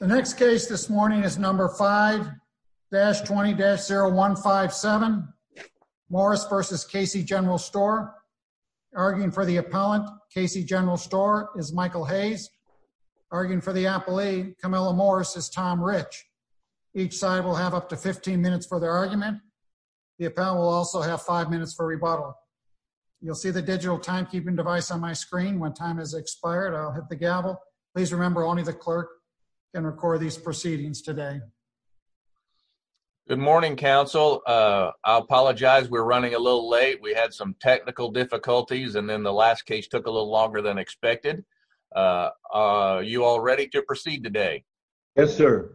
The next case this morning is number 5-20-0157 Morris v. Casey General Store. Arguing for the appellant, Casey General Store, is Michael Hayes. Arguing for the appellee, Camilla Morris, is Tom Rich. Each side will have up to 15 minutes for their argument. The appellant will also have five minutes for rebuttal. You'll see the digital timekeeping device on my screen. When time has expired, I'll hit the gavel. Please remember, only the clerk can record these proceedings today. Good morning, counsel. I apologize, we're running a little late. We had some technical difficulties and then the last case took a little longer than expected. Are you all ready to proceed today? Yes, sir.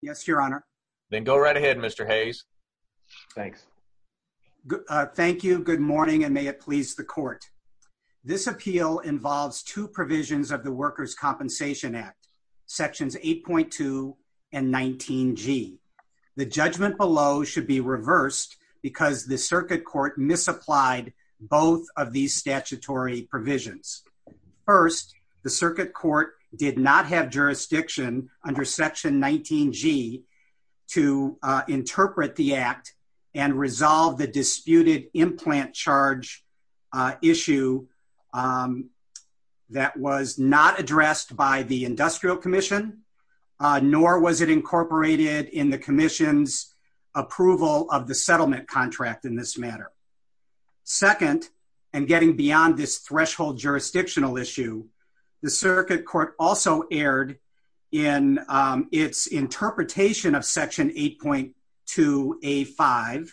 Yes, your honor. Then go right ahead, Mr. Hayes. Thanks. Thank you, good morning, and may it please the court. This appeal involves two provisions of the Workers' Compensation Act, sections 8.2 and 19G. The judgment below should be reversed because the circuit court misapplied both of these statutory provisions. First, the circuit court did not have the disputed implant charge issue that was not addressed by the industrial commission, nor was it incorporated in the commission's approval of the settlement contract in this matter. Second, and getting beyond this threshold jurisdictional issue, the circuit court also erred in its interpretation of section 8.2A5,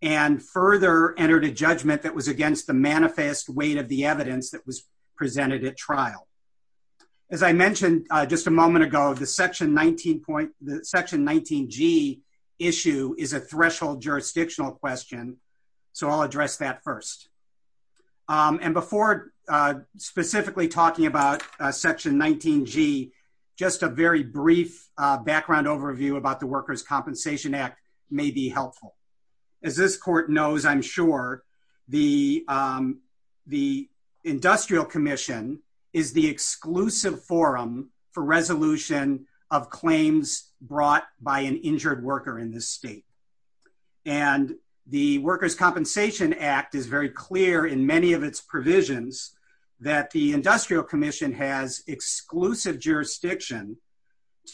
and further entered a judgment that was against the manifest weight of the evidence that was presented at trial. As I mentioned just a moment ago, the section 19G issue is a threshold jurisdictional question, so I'll address that just a very brief background overview about the Workers' Compensation Act may be helpful. As this court knows, I'm sure, the industrial commission is the exclusive forum for resolution of claims brought by an injured worker in this state, and the Workers' Compensation Act is very clear in many of its provisions that the industrial commission has exclusive jurisdiction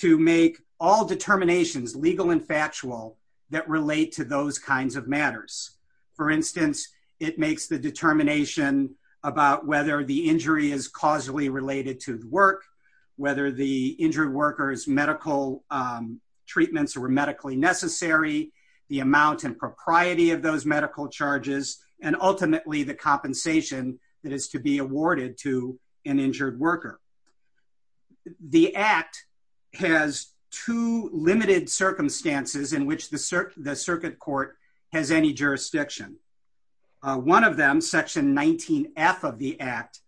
to make all determinations, legal and factual, that relate to those kinds of matters. For instance, it makes the determination about whether the injury is causally related to the work, whether the injured worker's medical treatments were medically necessary, the amount and propriety of those medical charges, and ultimately the compensation that is to be awarded to an injured worker. The Act has two limited circumstances in which the circuit court has any jurisdiction. One of them, section 19F of the Act,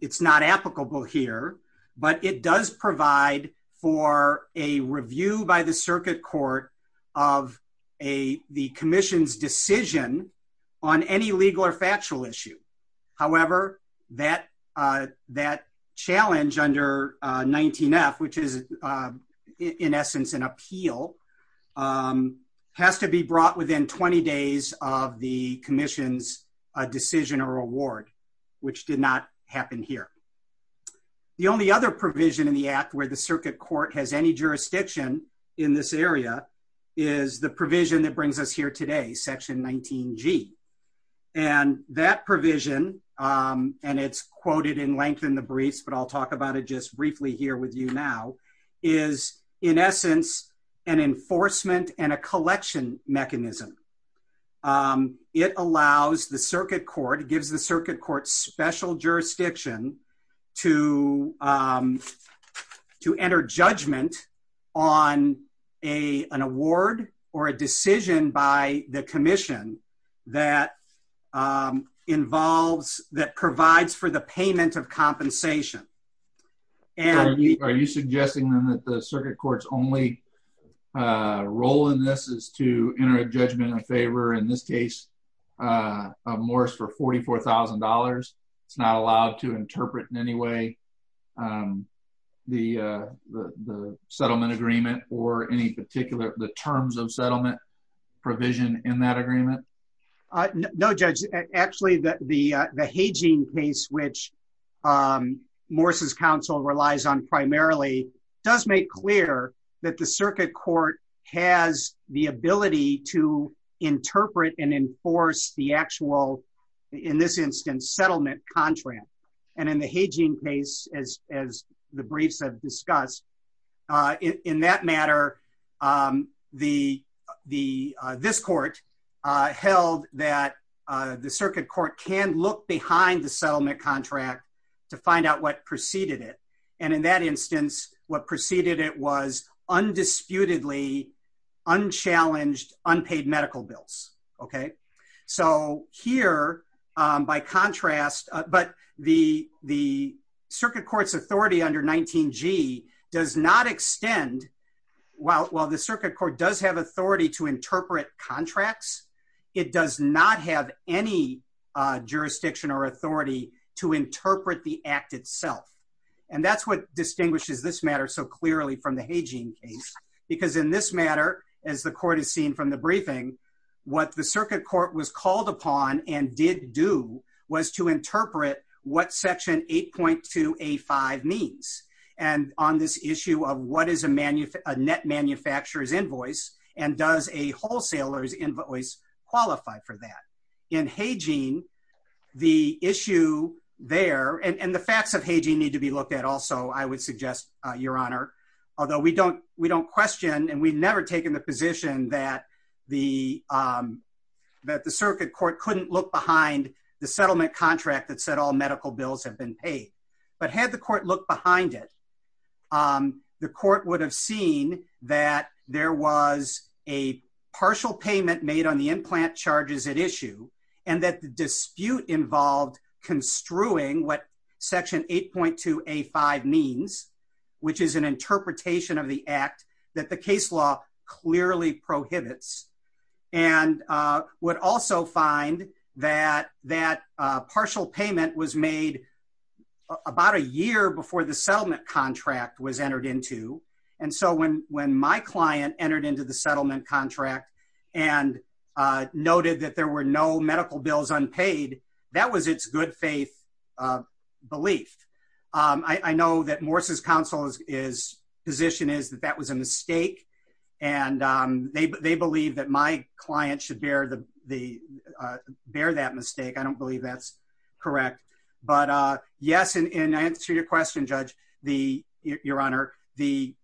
it's not applicable here, but it does provide for a review by the circuit court of the commission's decision on any legal or factual issue. However, that challenge under 19F, which is in essence an appeal, has to be brought within 20 days of the commission's decision or award, which did not happen here. The only other provision in the Act where the circuit court has any jurisdiction in this area is the provision that brings us here today, section 19G. That provision, and it's quoted in length in the briefs, but I'll talk about it just briefly here with you now, is in essence an enforcement and a collection mechanism. It allows the circuit court, gives the circuit court special jurisdiction to to enter judgment on an award or a decision by the commission that involves, that provides for the payment of compensation. Are you suggesting then that the circuit court's only role in this is to enter a judgment in favor, in this case, of Morris for $44,000? It's not allowed to interpret in any way the settlement agreement or any particular, the terms of settlement provision in that agreement? No, Judge. Actually, the Morris's counsel relies on primarily does make clear that the circuit court has the ability to interpret and enforce the actual, in this instance, settlement contract. And in the Hageen case, as the briefs have discussed, in that matter, this court held that the circuit court can look behind the settlement contract to find out what preceded it. And in that instance, what preceded it was undisputedly unchallenged, unpaid medical bills. Okay. So here, by contrast, but the circuit court's authority under 19G does not extend, while the circuit court does have authority to interpret contracts, it does not have any jurisdiction or authority to interpret the act itself. And that's what distinguishes this matter so clearly from the Hageen case. Because in this matter, as the court has seen from the briefing, what the circuit court was called upon and did do was to interpret what section 8.2A5 means. And on this issue of what is a net manufacturer's invoice, and does a wholesaler's invoice qualify for that. In Hageen, the issue there, and the facts of Hageen need to be looked at also, I would suggest, Your Honor. Although we don't question and we've never taken the position that the circuit court couldn't look behind the settlement contract that said all medical bills have been paid. But had the court looked behind it, the court would have seen that there was a partial payment made on the implant charges at issue, and that the dispute involved construing what section 8.2A5 means, which is an interpretation of the act that the case law clearly prohibits. And would also find that that partial payment was made about a year before the settlement contract was entered into. And so when my client entered into the settlement contract and noted that there were no medical bills unpaid, that was its good faith belief. I know that Morse's counsel's position is that that was a mistake, and they believe that my client should bear that mistake. I don't believe that's correct. But yes, in answer to your question, Judge, Your Honor, the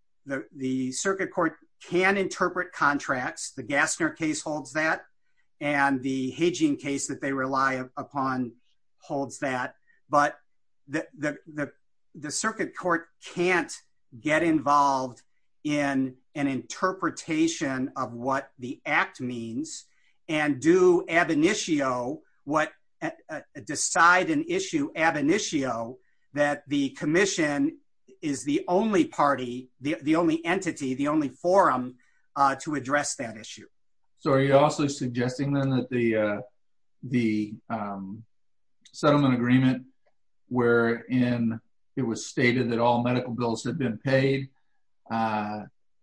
circuit court can interpret contracts. The Gassner case holds that, and the Hageen case that they rely upon holds that. But the circuit court can't get involved in an interpretation of what the act means and do ab initio, decide an issue ab initio, that the commission is the only party, the only entity, the only forum to address that issue. So are you also suggesting then that the settlement agreement wherein it was stated that all medical bills had been paid,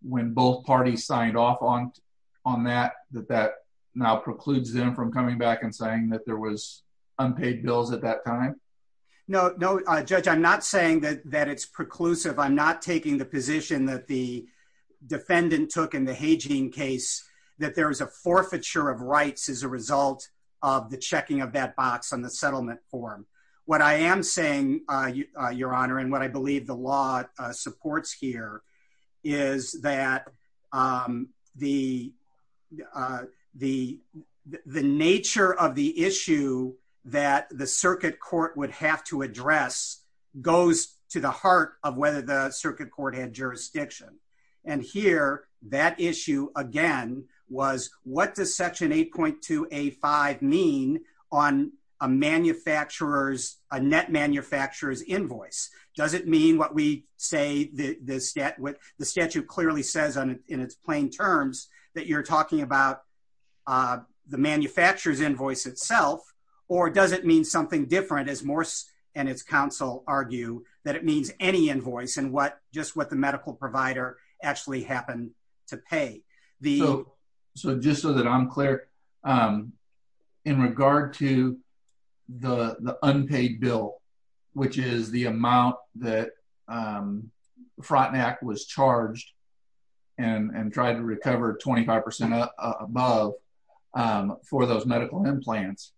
when both parties signed off on that, that that now precludes them from coming back and saying that there was unpaid bills at that time? No, no, Judge, I'm not saying that it's preclusive. I'm not taking the position that the there's a forfeiture of rights as a result of the checking of that box on the settlement form. What I am saying, Your Honor, and what I believe the law supports here, is that the nature of the issue that the circuit court would have to address goes to the heart of whether the does Section 8.2A.5 mean on a net manufacturer's invoice? Does it mean what we say, the statute clearly says in its plain terms that you're talking about the manufacturer's invoice itself, or does it mean something different, as Morse and its counsel argue, that it means any to pay? So just so that I'm clear, in regard to the unpaid bill, which is the amount that Frontenac was charged and tried to recover 25% above for those medical implants,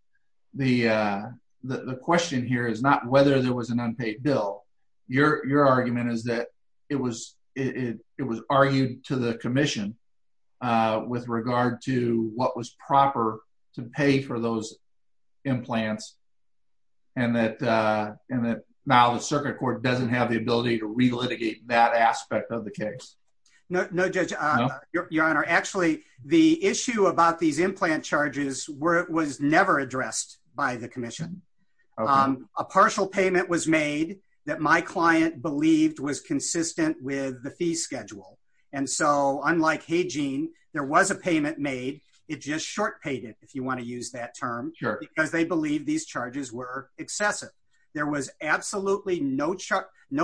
the question here is not whether there was an unpaid bill. Your argument is that it was argued to the Commission with regard to what was proper to pay for those implants, and that now the circuit court doesn't have the ability to relitigate that aspect of the case. No, Judge. Your Honor, actually, the issue about these implant charges was never addressed by the Commission. A partial payment was made that my client believed was consistent with the schedule, and so unlike Haygene, there was a payment made. It just short paid it, if you want to use that term, because they believed these charges were excessive. There was absolutely no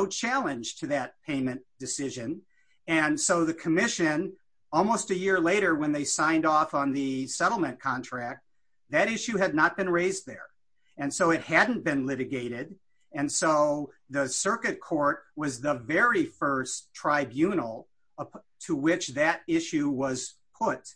challenge to that payment decision, and so the Commission, almost a year later when they signed off on the settlement contract, that issue had not been raised there, and so it hadn't been to which that issue was put,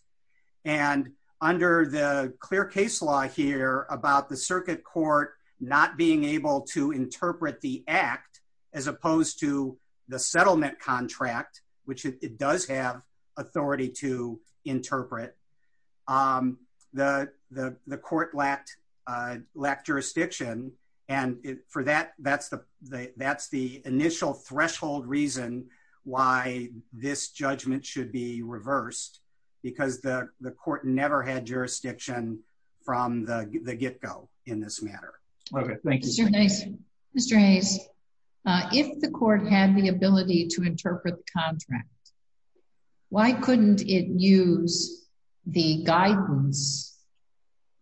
and under the clear case law here about the circuit court not being able to interpret the act as opposed to the settlement contract, which it does have authority to interpret, the court lacked jurisdiction, and for that, that's the this judgment should be reversed, because the court never had jurisdiction from the get-go in this matter. Okay, thank you. Mr. Hayes, if the court had the ability to interpret the contract, why couldn't it use the guidance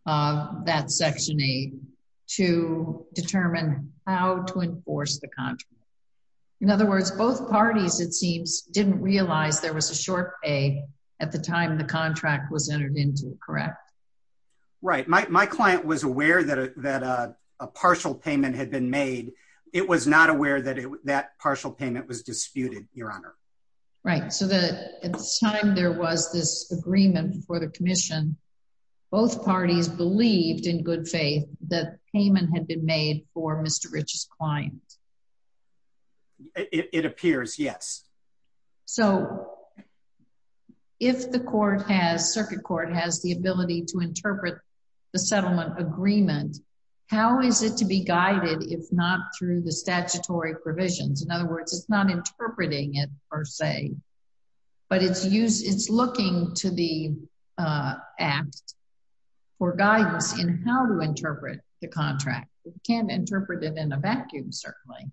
of that Section 8 to determine how to enforce the contract? In other words, both parties, it seems, didn't realize there was a short pay at the time the contract was entered into, correct? Right, my client was aware that a partial payment had been made. It was not aware that that partial payment was disputed, Your Honor. Right, so that at the time there was this agreement for the Commission, both parties believed in good faith that payment had been made for Mr. Rich's client. It appears, yes. So if the court has, circuit court has the ability to interpret the settlement agreement, how is it to be guided if not through the statutory provisions? In other words, it's not interpreting it per se, but it's looking to the Act for guidance in how to interpret the contract. It can't interpret it in a vacuum, certainly.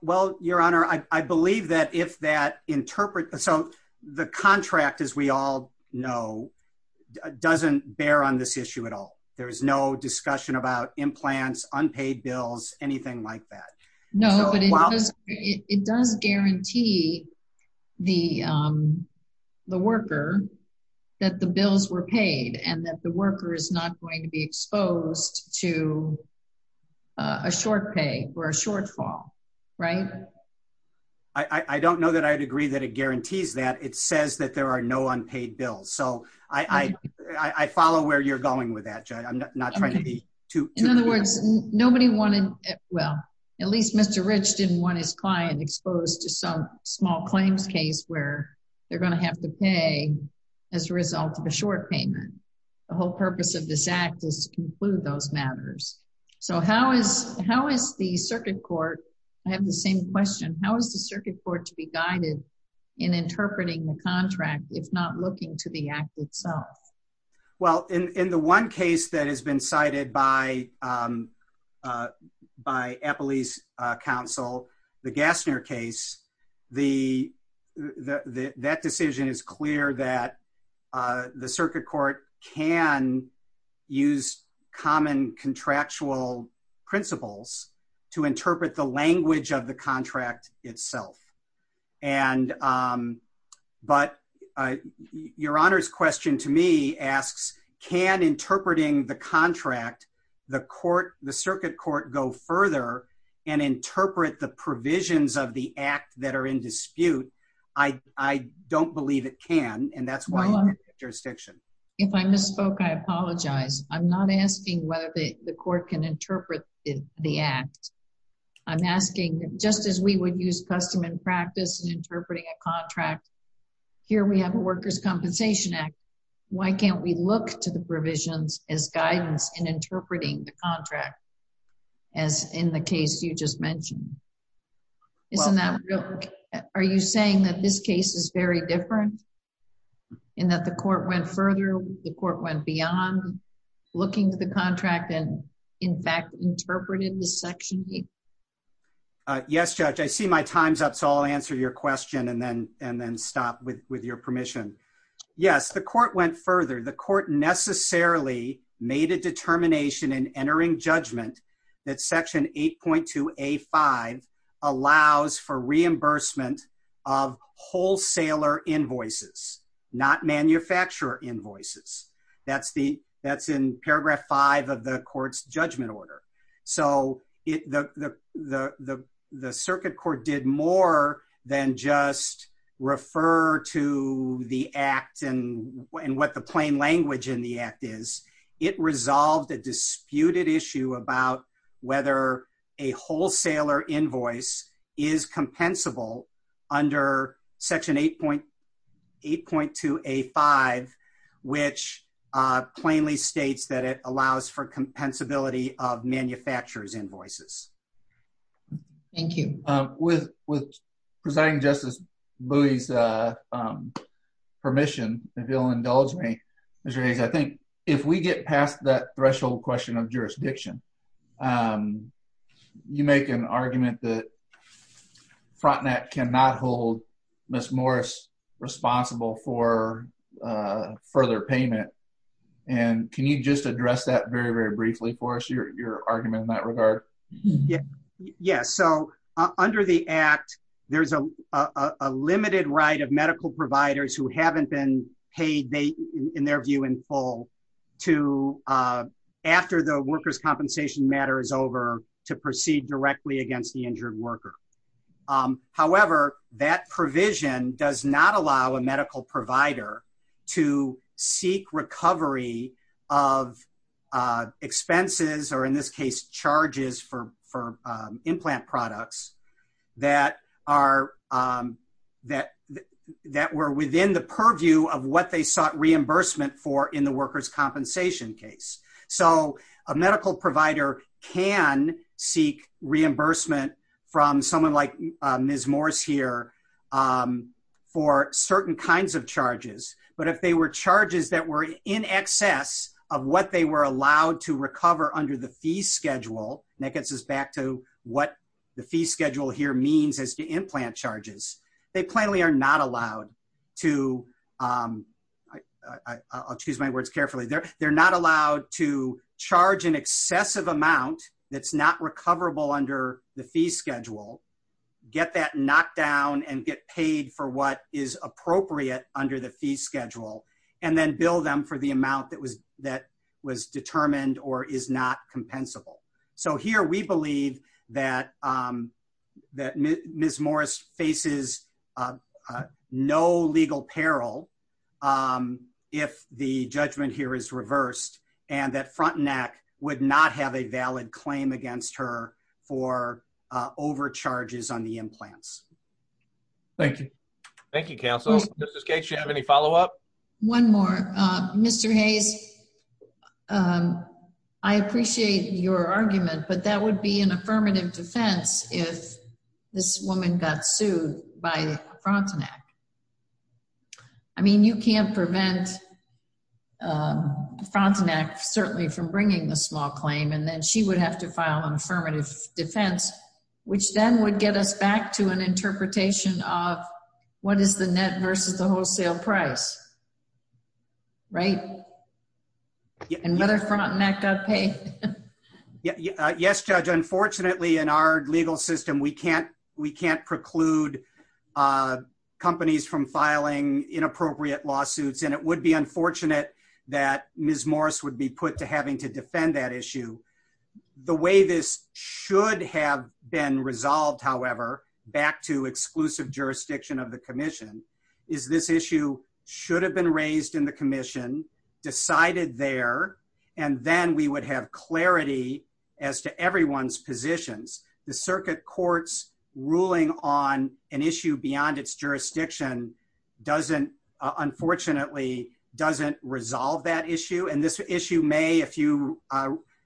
Well, Your Honor, I believe that if that interpret, so the contract, as we all know, doesn't bear on this issue at all. There's no discussion about implants, unpaid bills, anything like that. No, but it does guarantee the worker that the bills were paid and that the worker is not going to be exposed to a short pay or a shortfall, right? I don't know that I'd agree that it guarantees that. It says that there are no unpaid bills. So I follow where you're going with that, Judge. I'm not trying to be too... In other words, nobody wanted, well, at least Mr. Rich didn't want his client exposed to some small claims case where they're going to have to pay as a result of a short payment. The whole purpose of this Act is to conclude those matters. So how is the circuit court, I have the same question, how is the circuit court to be the one case that has been cited by Eppley's counsel, the Gassner case, that decision is clear that the circuit court can use common contractual principles to interpret the language of the contract, the circuit court go further and interpret the provisions of the Act that are in dispute. I don't believe it can, and that's why I'm in the jurisdiction. If I misspoke, I apologize. I'm not asking whether the court can interpret the Act. I'm asking, just as we would use custom and practice in interpreting a contract, here we have a worker's compensation Act. Why can't we look to the provisions as guidance in interpreting the contract, as in the case you just mentioned? Isn't that real? Are you saying that this case is very different, and that the court went further, the court went beyond looking to the contract and, in fact, interpreted the Section 8? Yes, Judge. I see my time's up, so I'll answer your question and then stop with your permission. Yes, the court went further. The court necessarily made a determination in entering judgment that Section 8.2A5 allows for reimbursement of wholesaler invoices, not manufacturer invoices. That's in paragraph 5 of the court's judgment order. The circuit court did more than just refer to the Act and what the plain language in the Act is. It resolved a disputed issue about whether a wholesaler invoice is compensable under Section 8.2A5, which plainly states that it allows for compensability of manufacturer's invoices. Thank you. With Presiding Justice Bowie's permission, if you'll indulge me, Mr. Hayes, I think if we get past that threshold question of jurisdiction, you make an argument that Frontenac cannot hold Ms. Morris responsible for further payment, and can you just address that very, very briefly for us, your argument in that regard? Yes, so under the Act, there's a limited right of medical providers who haven't been over to proceed directly against the injured worker. However, that provision does not allow a medical provider to seek recovery of expenses, or in this case, charges for implant products that were within the purview of what they sought reimbursement for in the worker's compensation case. So a medical provider can seek reimbursement from someone like Ms. Morris here for certain kinds of charges, but if they were charges that were in excess of what they were allowed to recover under the fee schedule, and that gets us back to what the fee schedule here means as to implant charges, they plainly are not allowed to, I'll choose my words carefully, they're not allowed to charge an excessive amount that's not recoverable under the fee schedule, get that knocked down, and get paid for what is appropriate under the fee schedule, and then bill them for the amount that was determined or is not compensable. So here, we believe that Ms. Morris faces no legal peril if the judgment here is reversed, and that Frontenac would not have a valid claim against her for overcharges on the implants. Thank you. Thank you, counsel. Ms. Gates, do you have any follow-up? One more. Mr. Hayes, I appreciate your argument, but that would be an affirmative defense if this woman got sued by Frontenac. I mean, you can't prevent Frontenac certainly from bringing the small claim, and then she would have to file an affirmative defense, which then would get us back to an interpretation of what is the net versus the wholesale price, right? And whether Frontenac got paid. Yes, Judge. Unfortunately, in our legal system, we can't preclude companies from filing inappropriate lawsuits, and it would be unfortunate that Ms. Morris would be put to issue. The way this should have been resolved, however, back to exclusive jurisdiction of the commission, is this issue should have been raised in the commission, decided there, and then we would have clarity as to everyone's positions. The circuit court's ruling on an issue beyond its jurisdiction doesn't, unfortunately, doesn't resolve that issue. And this issue may, if you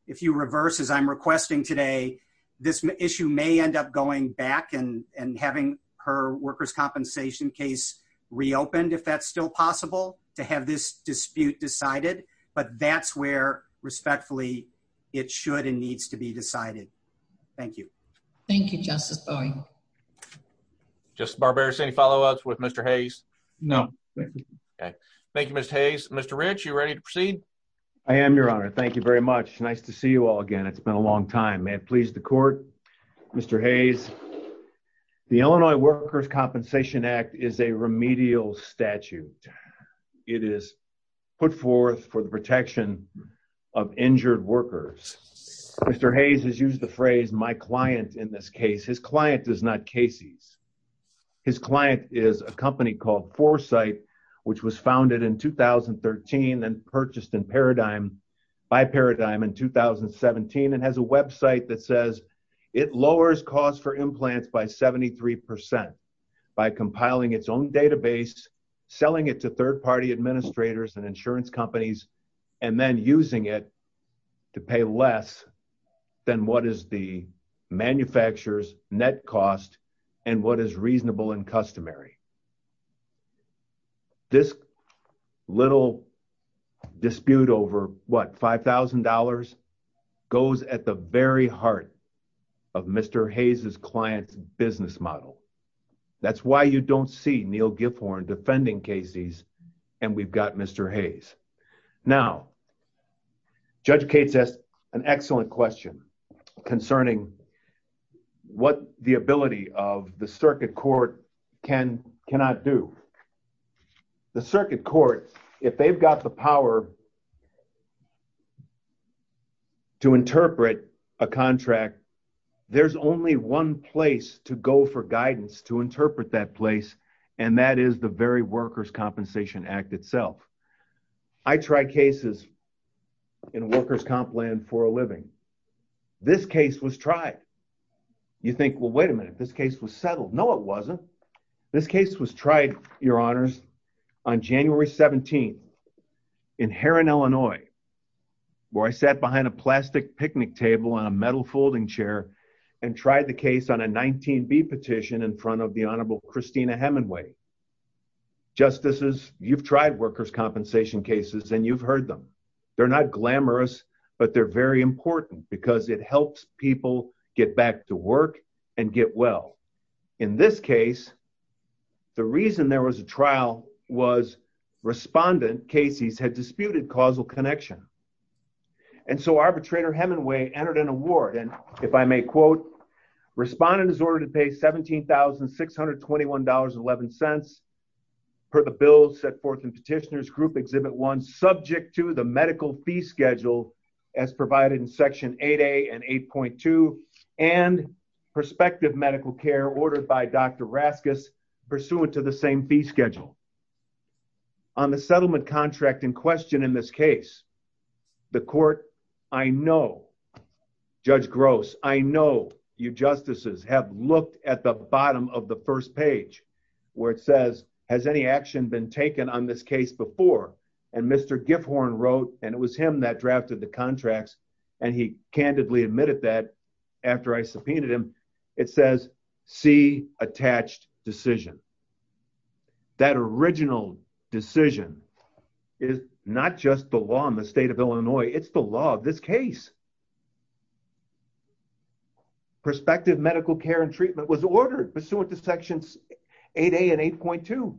reverse as I'm requesting today, this issue may end up going back and having her workers' compensation case reopened, if that's still possible, to have this dispute decided. But that's where, respectfully, it should and needs to be decided. Thank you. Thank you, Justice Bowie. Justice Barbera, any follow-ups with Mr. Hayes? No. Okay. Thank you, Mr. Hayes. Mr. Rich, you ready to proceed? I am, Your Honor. Thank you very much. Nice to see you all again. It's been a long time. May it please the court. Mr. Hayes, the Illinois Workers' Compensation Act is a remedial statute. It is put forth for the protection of injured workers. Mr. Hayes has used the phrase, my client, in this case. His client is not Casey's. His client is a company called Foresight, which was founded in 2013 and purchased by Paradigm in 2017, and has a website that says it lowers costs for implants by 73 percent by compiling its own database, selling it to third manufacturers, net cost, and what is reasonable and customary. This little dispute over, what, $5,000 goes at the very heart of Mr. Hayes's client's business model. That's why you don't see Neil Gifhorn defending Casey's and we've got Mr. Hayes. Now, Judge Cates asked an excellent question concerning what the ability of the circuit court cannot do. The circuit court, if they've got the power to interpret a contract, there's only one place to go for guidance to interpret that place, and that is the very Workers' Compensation Act itself. I tried cases in workers' comp land for a living. This case was tried. You think, well, wait a minute. This case was settled. No, it wasn't. This case was tried, Your Honors, on January 17th in Heron, Illinois, where I sat behind a plastic picnic table on a metal table. This is the case of Arbitrator Hemingway. Justices, you've tried workers' compensation cases, and you've heard them. They're not glamorous, but they're very important because it helps people get back to work and get well. In this case, the reason there was a trial was respondent, Casey's, had disputed causal connection. So, arbitrator Hemingway entered an award, and if I may quote, respondent is ordered to pay $17,621.11 per the bill set forth in Petitioner's Group Exhibit 1, subject to the medical fee schedule as provided in Section 8A and 8.2, and prospective medical care ordered by Dr. Raskis, pursuant to the same fee schedule. On the settlement contract in question in this case, the court, I know, Judge Gross, I know you justices have looked at the bottom of the first page, where it says, has any action been taken on this case before? And Mr. Gifhorn wrote, and it was him that drafted the contracts, and he candidly admitted that after I subpoenaed him. It says, see attached decision. That original decision is not just the law in the state of Illinois, it's the law of this case. Prospective medical care and treatment was ordered pursuant to Sections 8A and 8.2.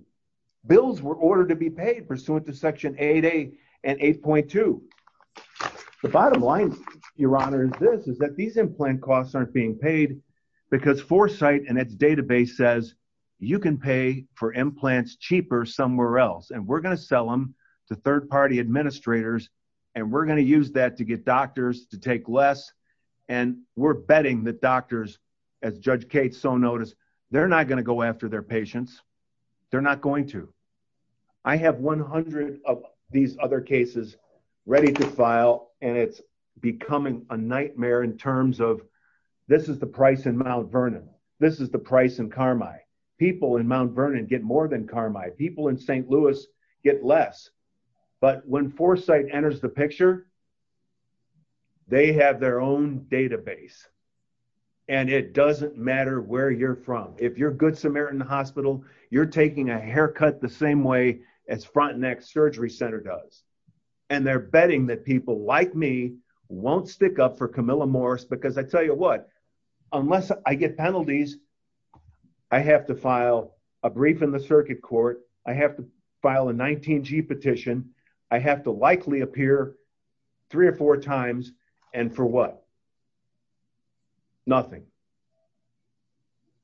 Bills were ordered to be paid pursuant to Section 8A and 8.2. The bottom line, Your Honor, is this, is that these implant costs aren't being paid because Foresight and its for implants cheaper somewhere else, and we're going to sell them to third-party administrators, and we're going to use that to get doctors to take less, and we're betting that doctors, as Judge Cates so noticed, they're not going to go after their patients. They're not going to. I have 100 of these other cases ready to file, and it's becoming a nightmare in terms of, this is the price in Mount Vernon. This is the price in Carmi. People in Mount Vernon get more than Carmi. People in St. Louis get less, but when Foresight enters the picture, they have their own database, and it doesn't matter where you're from. If you're Good Samaritan Hospital, you're taking a haircut the same way as Frontenac Surgery Center does, and they're up for Camilla Morris, because I tell you what, unless I get penalties, I have to file a brief in the circuit court. I have to file a 19G petition. I have to likely appear three or four times, and for what? Nothing.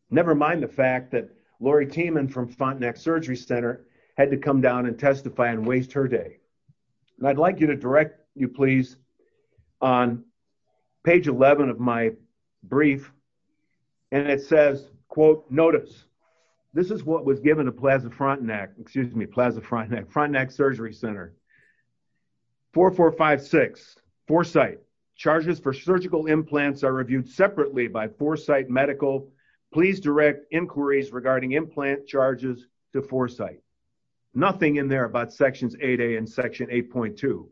Never mind the fact that Lori Tiemann from Frontenac Surgery Center had to come down and testify and waste her day, and I'd like you to direct you, please, on page 11 of my brief, and it says, quote, notice, this is what was given to Plaza Frontenac, excuse me, Plaza Frontenac, Frontenac Surgery Center. 4456, Foresight, charges for surgical implants are reviewed separately by Foresight Medical. Please direct inquiries regarding implant charges to Foresight. Nothing in there about Sections 8A and Section 8.2.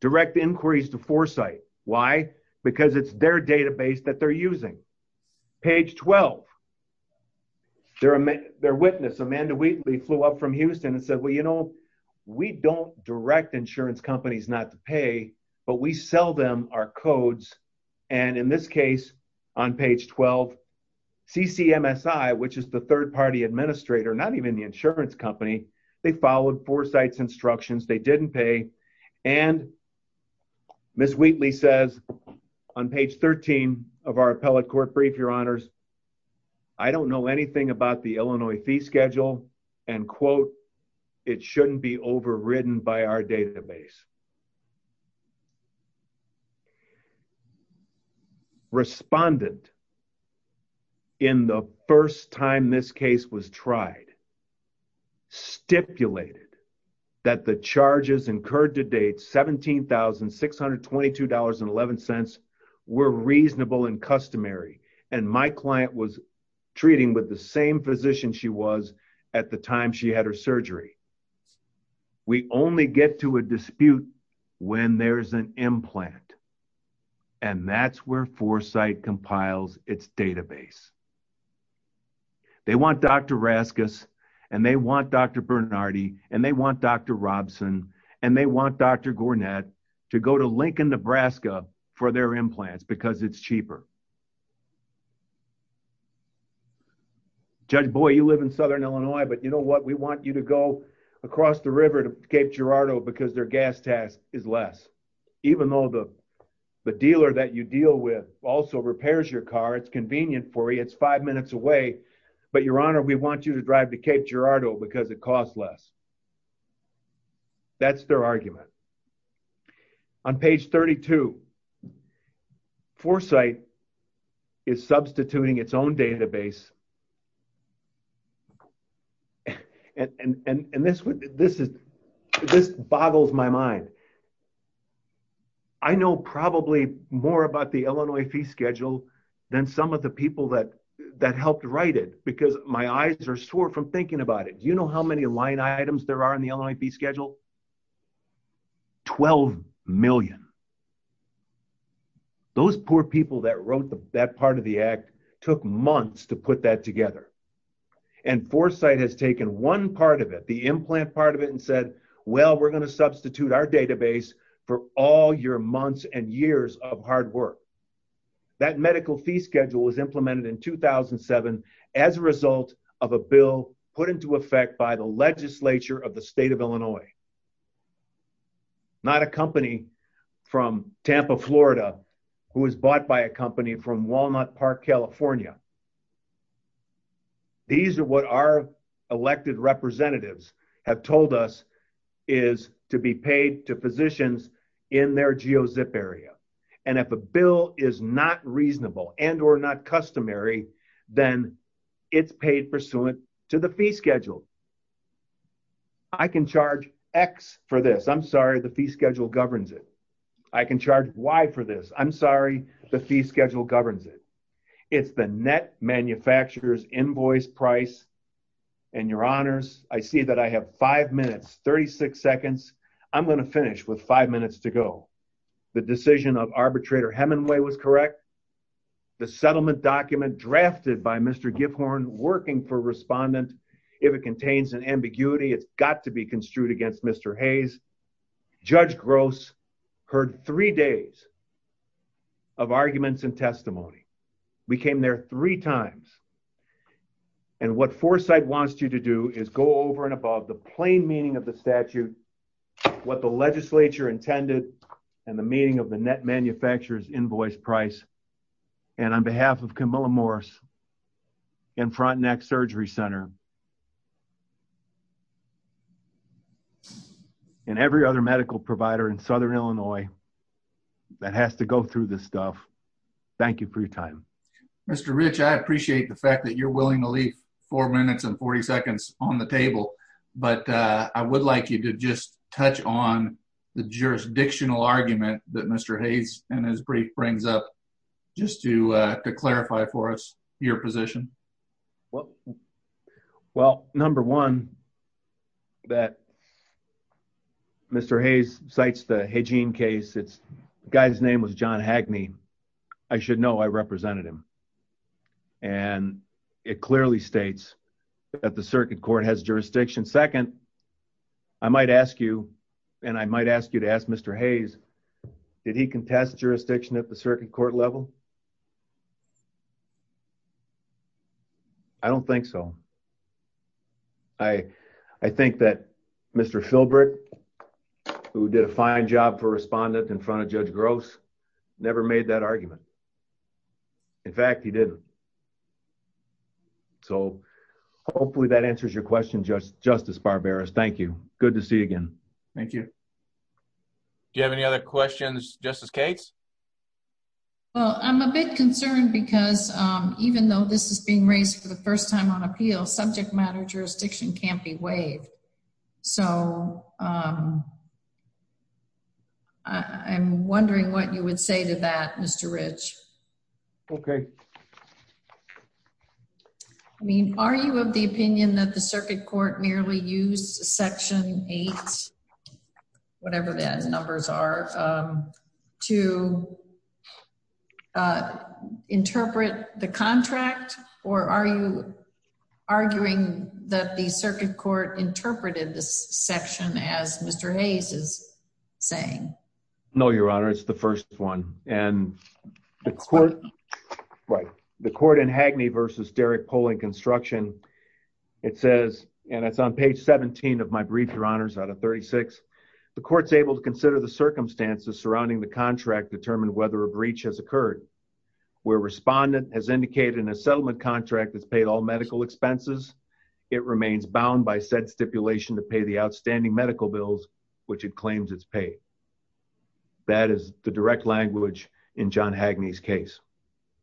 Direct inquiries to Foresight. Why? Because it's their database that they're using. Page 12, their witness, Amanda Wheatley, flew up from Houston and said, well, you know, we don't direct insurance companies not to pay, but we sell them our codes, and in this case, on page 12, CCMSI, which is the third-party administrator, not even the insurance company, they followed Foresight's instructions. They didn't pay, and Ms. Wheatley says on page 13 of our appellate court brief, your honors, I don't know anything about the Illinois fee schedule, and quote, it shouldn't be overridden by our database. Respondent, in the first time this case was tried, stipulated that the charges incurred to date, $17,622.11, were reasonable and customary, and my client was treating with the same physician she was at the time she had her surgery. We only get to a dispute when there's an implant, and that's where Foresight compiles its database. They want Dr. Raskus, and they want Dr. Bernardi, and they want Dr. Robson, and they want Dr. Gornett to go to Lincoln, Nebraska, for their implants because it's cheaper. Judge Boyd, you live in southern Illinois, but you know what? We want you to go across the river to Cape Girardeau because their gas tax is less, even though the dealer that you deal with also repairs your car. It's convenient for you. It's five minutes away, but, your honor, we want you to drive to Cape Girardeau because it costs less. That's their argument. On page 32, Foresight is substituting its own database, and this boggles my mind. I know probably more about the Illinois fee schedule than some of the people that helped write it because my eyes are sore from thinking about it. Do you know how many those poor people that wrote that part of the act took months to put that together, and Foresight has taken one part of it, the implant part of it, and said, well, we're going to substitute our database for all your months and years of hard work. That medical fee schedule was implemented in 2007 as a result of a bill put into effect by the legislature of the state of Illinois, not a company from Tampa, Florida, who was bought by a company from Walnut Park, California. These are what our elected representatives have told us is to be paid to physicians in their GeoZip area, and if a bill is not reasonable and or not I can charge X for this. I'm sorry, the fee schedule governs it. I can charge Y for this. I'm sorry, the fee schedule governs it. It's the net manufacturer's invoice price, and your honors, I see that I have five minutes, 36 seconds. I'm going to finish with five minutes to go. The decision of arbitrator Hemenway was correct. The settlement document drafted by Mr. Giffhorn, working for respondent, if it contains an ambiguity, it's got to be construed against Mr. Hayes. Judge Gross heard three days of arguments and testimony. We came there three times, and what Foresight wants you to do is go over and above the plain meaning of the statute, what the legislature intended, and the meaning of the net manufacturer's invoice price, and on behalf of Camilla Morris and Frontenac Surgery Center and every other medical provider in Southern Illinois that has to go through this stuff, thank you for your time. Mr. Rich, I appreciate the fact that you're willing to leave four minutes and 40 seconds on the table, but I would like you to just touch on the jurisdictional argument that Mr. Hayes, in his brief, brings up, just to clarify for us your position. Well, number one, that Mr. Hayes cites the Hegene case. The guy's name was John Hagney. I should know, I represented him, and it clearly states that the circuit court has jurisdiction. Second, I might ask you, and I might ask you to ask Mr. Hayes, did he contest jurisdiction at the circuit court level? I don't think so. I think that Mr. Filbert, who did a fine job for a respondent in front of Judge Gross, never made that argument. In fact, he didn't. So, hopefully that answers your question, Justice Barberis. Thank you. Good to see you again. Thank you. Do you have any other questions, Justice Cates? Well, I'm a bit concerned because even though this is being raised for the first time on appeal, subject matter jurisdiction can't be waived. So, I'm wondering what you would say to that, Mr. Rich. Okay. I mean, are you of the opinion that the circuit court merely used Section 8, whatever those numbers are, to interpret the contract? Or are you arguing that the circuit court interpreted this section as Mr. Hayes is saying? No, Your Honor. It's the first one. And the court in Hagney v. Derrick Polling Construction, it says, and it's on page 17 of my brief, Your Honors, out of 36, the court's able to consider the circumstances surrounding the contract to determine whether a breach has occurred. Where a respondent has indicated in a settlement contract that's paid all medical expenses, it remains bound by said stipulation to pay the outstanding medical bills, which it claims it's paid. That is the direct language in John Hagney's case.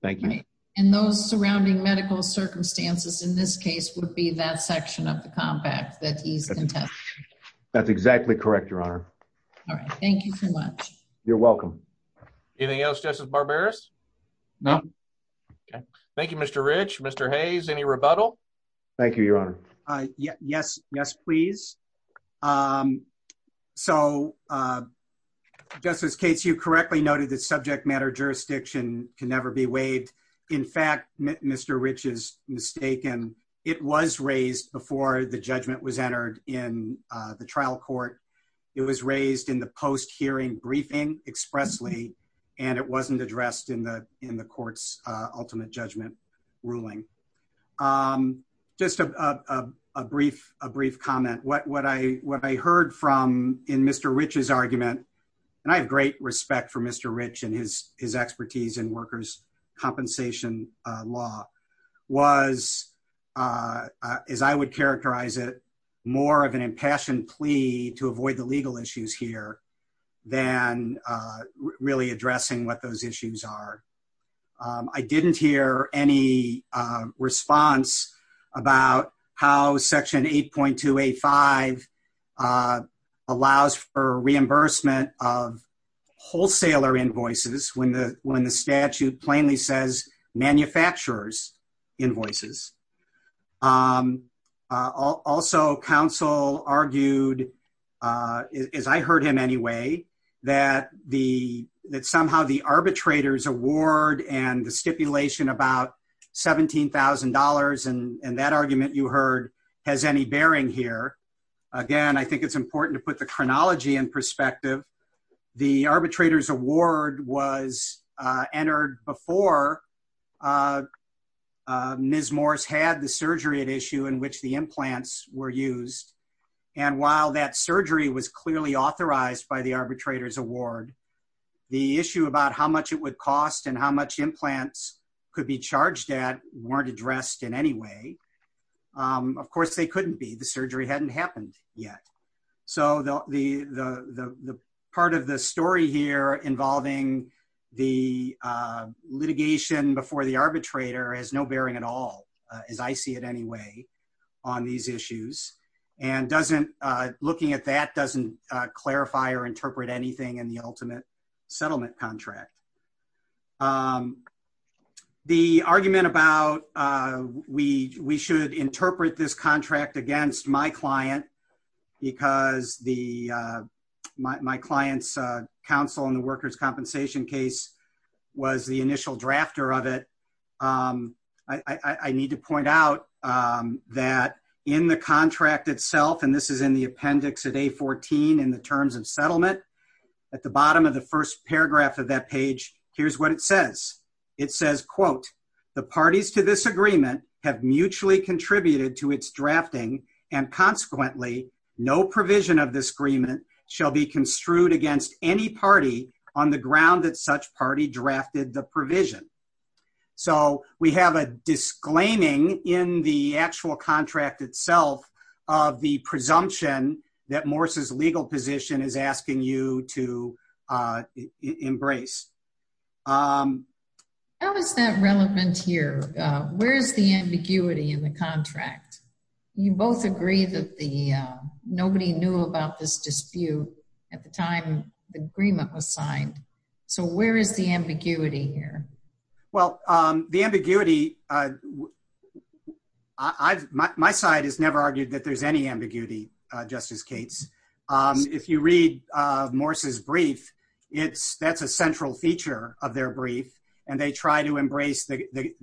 Thank you. And those surrounding medical circumstances in this case would be that section of the compact that he's contesting. That's exactly correct, Your Honor. All right. Thank you so much. You're welcome. Anything else, Justice Barberis? No. Okay. Thank you, Mr. Rich. Mr. Hayes, any rebuttal? Thank you, Your Honor. Yes. Yes, please. So, Justice Cates, you correctly noted that subject matter jurisdiction can never be waived. In fact, Mr. Rich is mistaken. It was raised before the judgment was entered in the trial court. It was raised in the post-hearing briefing expressly, and it wasn't addressed in the court's ultimate judgment ruling. Just a brief comment. What I heard from in Mr. Rich's argument, and I have great respect for Mr. Rich and his expertise in workers' compensation law, was, as I would characterize it, more of an impassioned plea to avoid the legal issues here than really addressing what those about how section 8.285 allows for reimbursement of wholesaler invoices when the statute plainly says manufacturers' invoices. Also, counsel argued, as I heard him anyway, that somehow the arbitrator's award and the stipulation about $17,000 and that argument you heard has any bearing here. Again, I think it's important to put the chronology in perspective. The arbitrator's award was entered before Ms. Morris had the surgery at issue in which the implants were used, and while that surgery was clearly authorized by the arbitrator's award, the issue about how much it would cost and how much implants could be charged at weren't addressed in any way. Of course, they couldn't be. The surgery hadn't happened yet. The part of the story here involving the litigation before the arbitrator has no bearing at all, as I see it anyway, on these issues. Looking at that doesn't clarify or interpret anything in the ultimate settlement contract. The argument about we should interpret this contract against my client because my client's counsel in the workers' compensation case was the initial drafter of it. I need to point out that in the contract itself, and this is in the appendix at A14 in the terms of settlement, at the bottom of the first paragraph of that page, here's what it says. It says, quote, the parties to this agreement have mutually contributed to its drafting, and consequently, no provision of this agreement shall be construed against any party on the ground that such party drafted the provision. We have a disclaiming in the actual contract itself of the presumption that Morse's legal position is asking you to embrace. How is that relevant here? Where is the ambiguity in the contract? You both agree that nobody knew about this dispute at the time the agreement was signed. Where is the ambiguity here? Well, the ambiguity, my side has never argued that there's any ambiguity, Justice Cates. If you read Morse's brief, that's a central feature of their brief, and they try to embrace the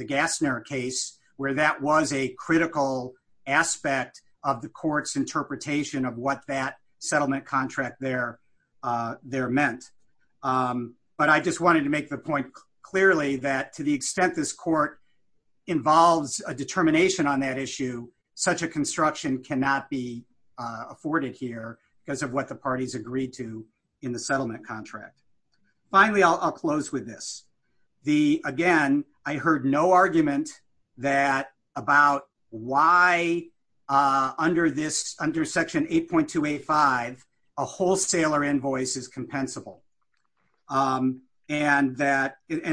Gassner case where that was a critical aspect of the court's interpretation of what that clearly that to the extent this court involves a determination on that issue, such a construction cannot be afforded here because of what the parties agreed to in the settlement contract. Finally, I'll close with this. Again, I heard no argument that about why under this,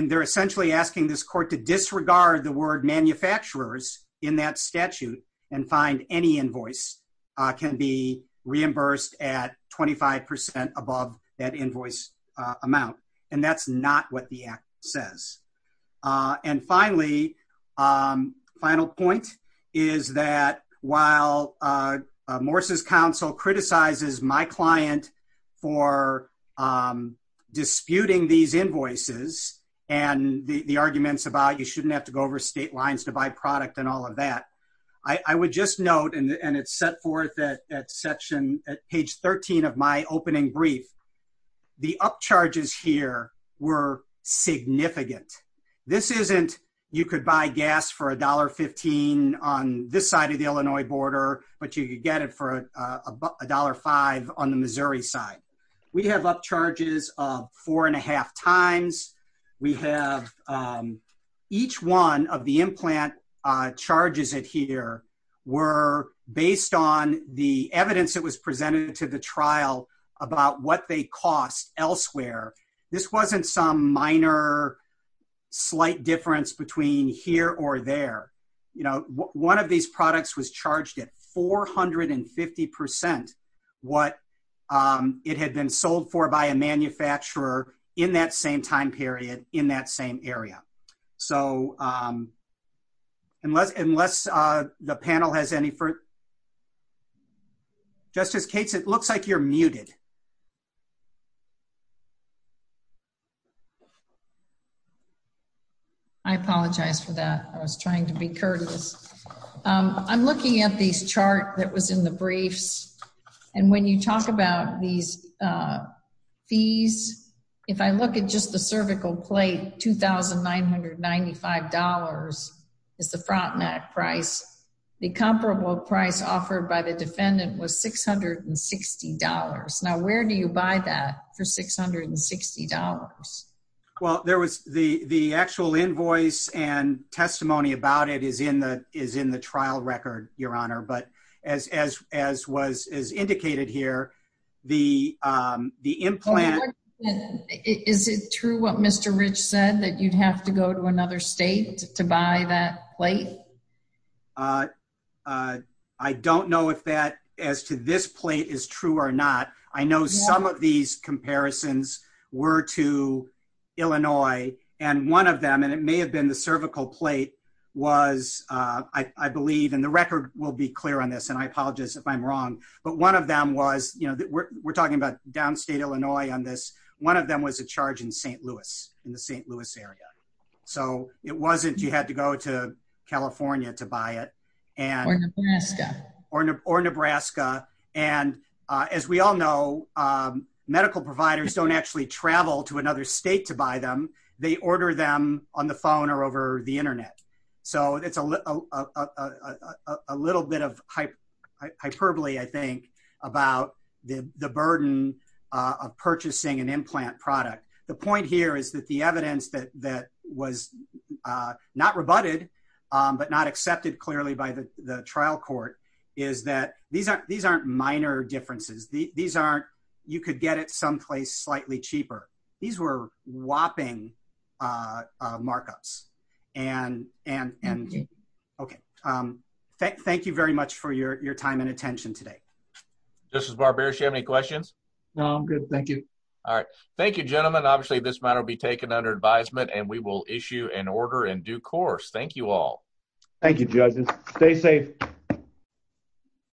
and they're essentially asking this court to disregard the word manufacturers in that statute and find any invoice can be reimbursed at 25% above that invoice amount. That's not what the act says. Finally, final point is that while Morse's counsel criticizes my client for disputing these invoices and the arguments about you shouldn't have to go over state lines to buy product and all of that, I would just note, and it's set forth at page 13 of my opening brief, the upcharges here were significant. This isn't you could buy gas for $1.15 on this side of the Illinois border, but you get it for $1.05 on the Missouri side. We have upcharges of four and a half times. We have each one of the implant charges it here were based on the evidence that was presented to the trial about what they cost elsewhere. This wasn't some minor slight difference between here or there. One of these products was charged at 450% what it had been sold for by a manufacturer in that same time period in that same area. Unless the panel has any further... Justice Cates, it looks like you're muted. I apologize for that. I was trying to be courteous. I'm looking at this chart that was in the briefs, and when you talk about these fees, if I look at just the cervical plate, $2,995 is the front neck price. The comparable price offered by the defendant was $660. Now, where do you buy that for $660? Well, the actual invoice and testimony about it is in the trial record, Your Honor, but as indicated here, the implant... Is it true what Mr. Rich said, that you'd have to go to another state to buy that plate? I don't know if that, as to this plate, is true or not. I know some of these comparisons were to Illinois, and one of them, and it may have been the cervical plate, was, I believe, and the record will be clear on this, and I apologize if I'm wrong, but one of them was... We're talking about downstate Illinois on this. One of them was a charge in St. Louis, in the St. Louis area. It wasn't you had to go to California to buy it. Or Nebraska. Or Nebraska. As we all know, medical providers don't actually travel to another state to buy them. They order them on the phone or over the internet. It's a bit of hyperbole, I think, about the burden of purchasing an implant product. The point here is that the evidence that was not rebutted, but not accepted clearly by the trial court, is that these aren't minor differences. You could get it someplace slightly cheaper. These were whopping markups. Thank you very much for your time and attention today. Justice Barberis, do you have any questions? No, I'm good. Thank you. All right. Thank you, gentlemen. Obviously, this matter will be taken under advisement, and we will issue an order in due course. Thank you all. Thank you, judges. Stay safe.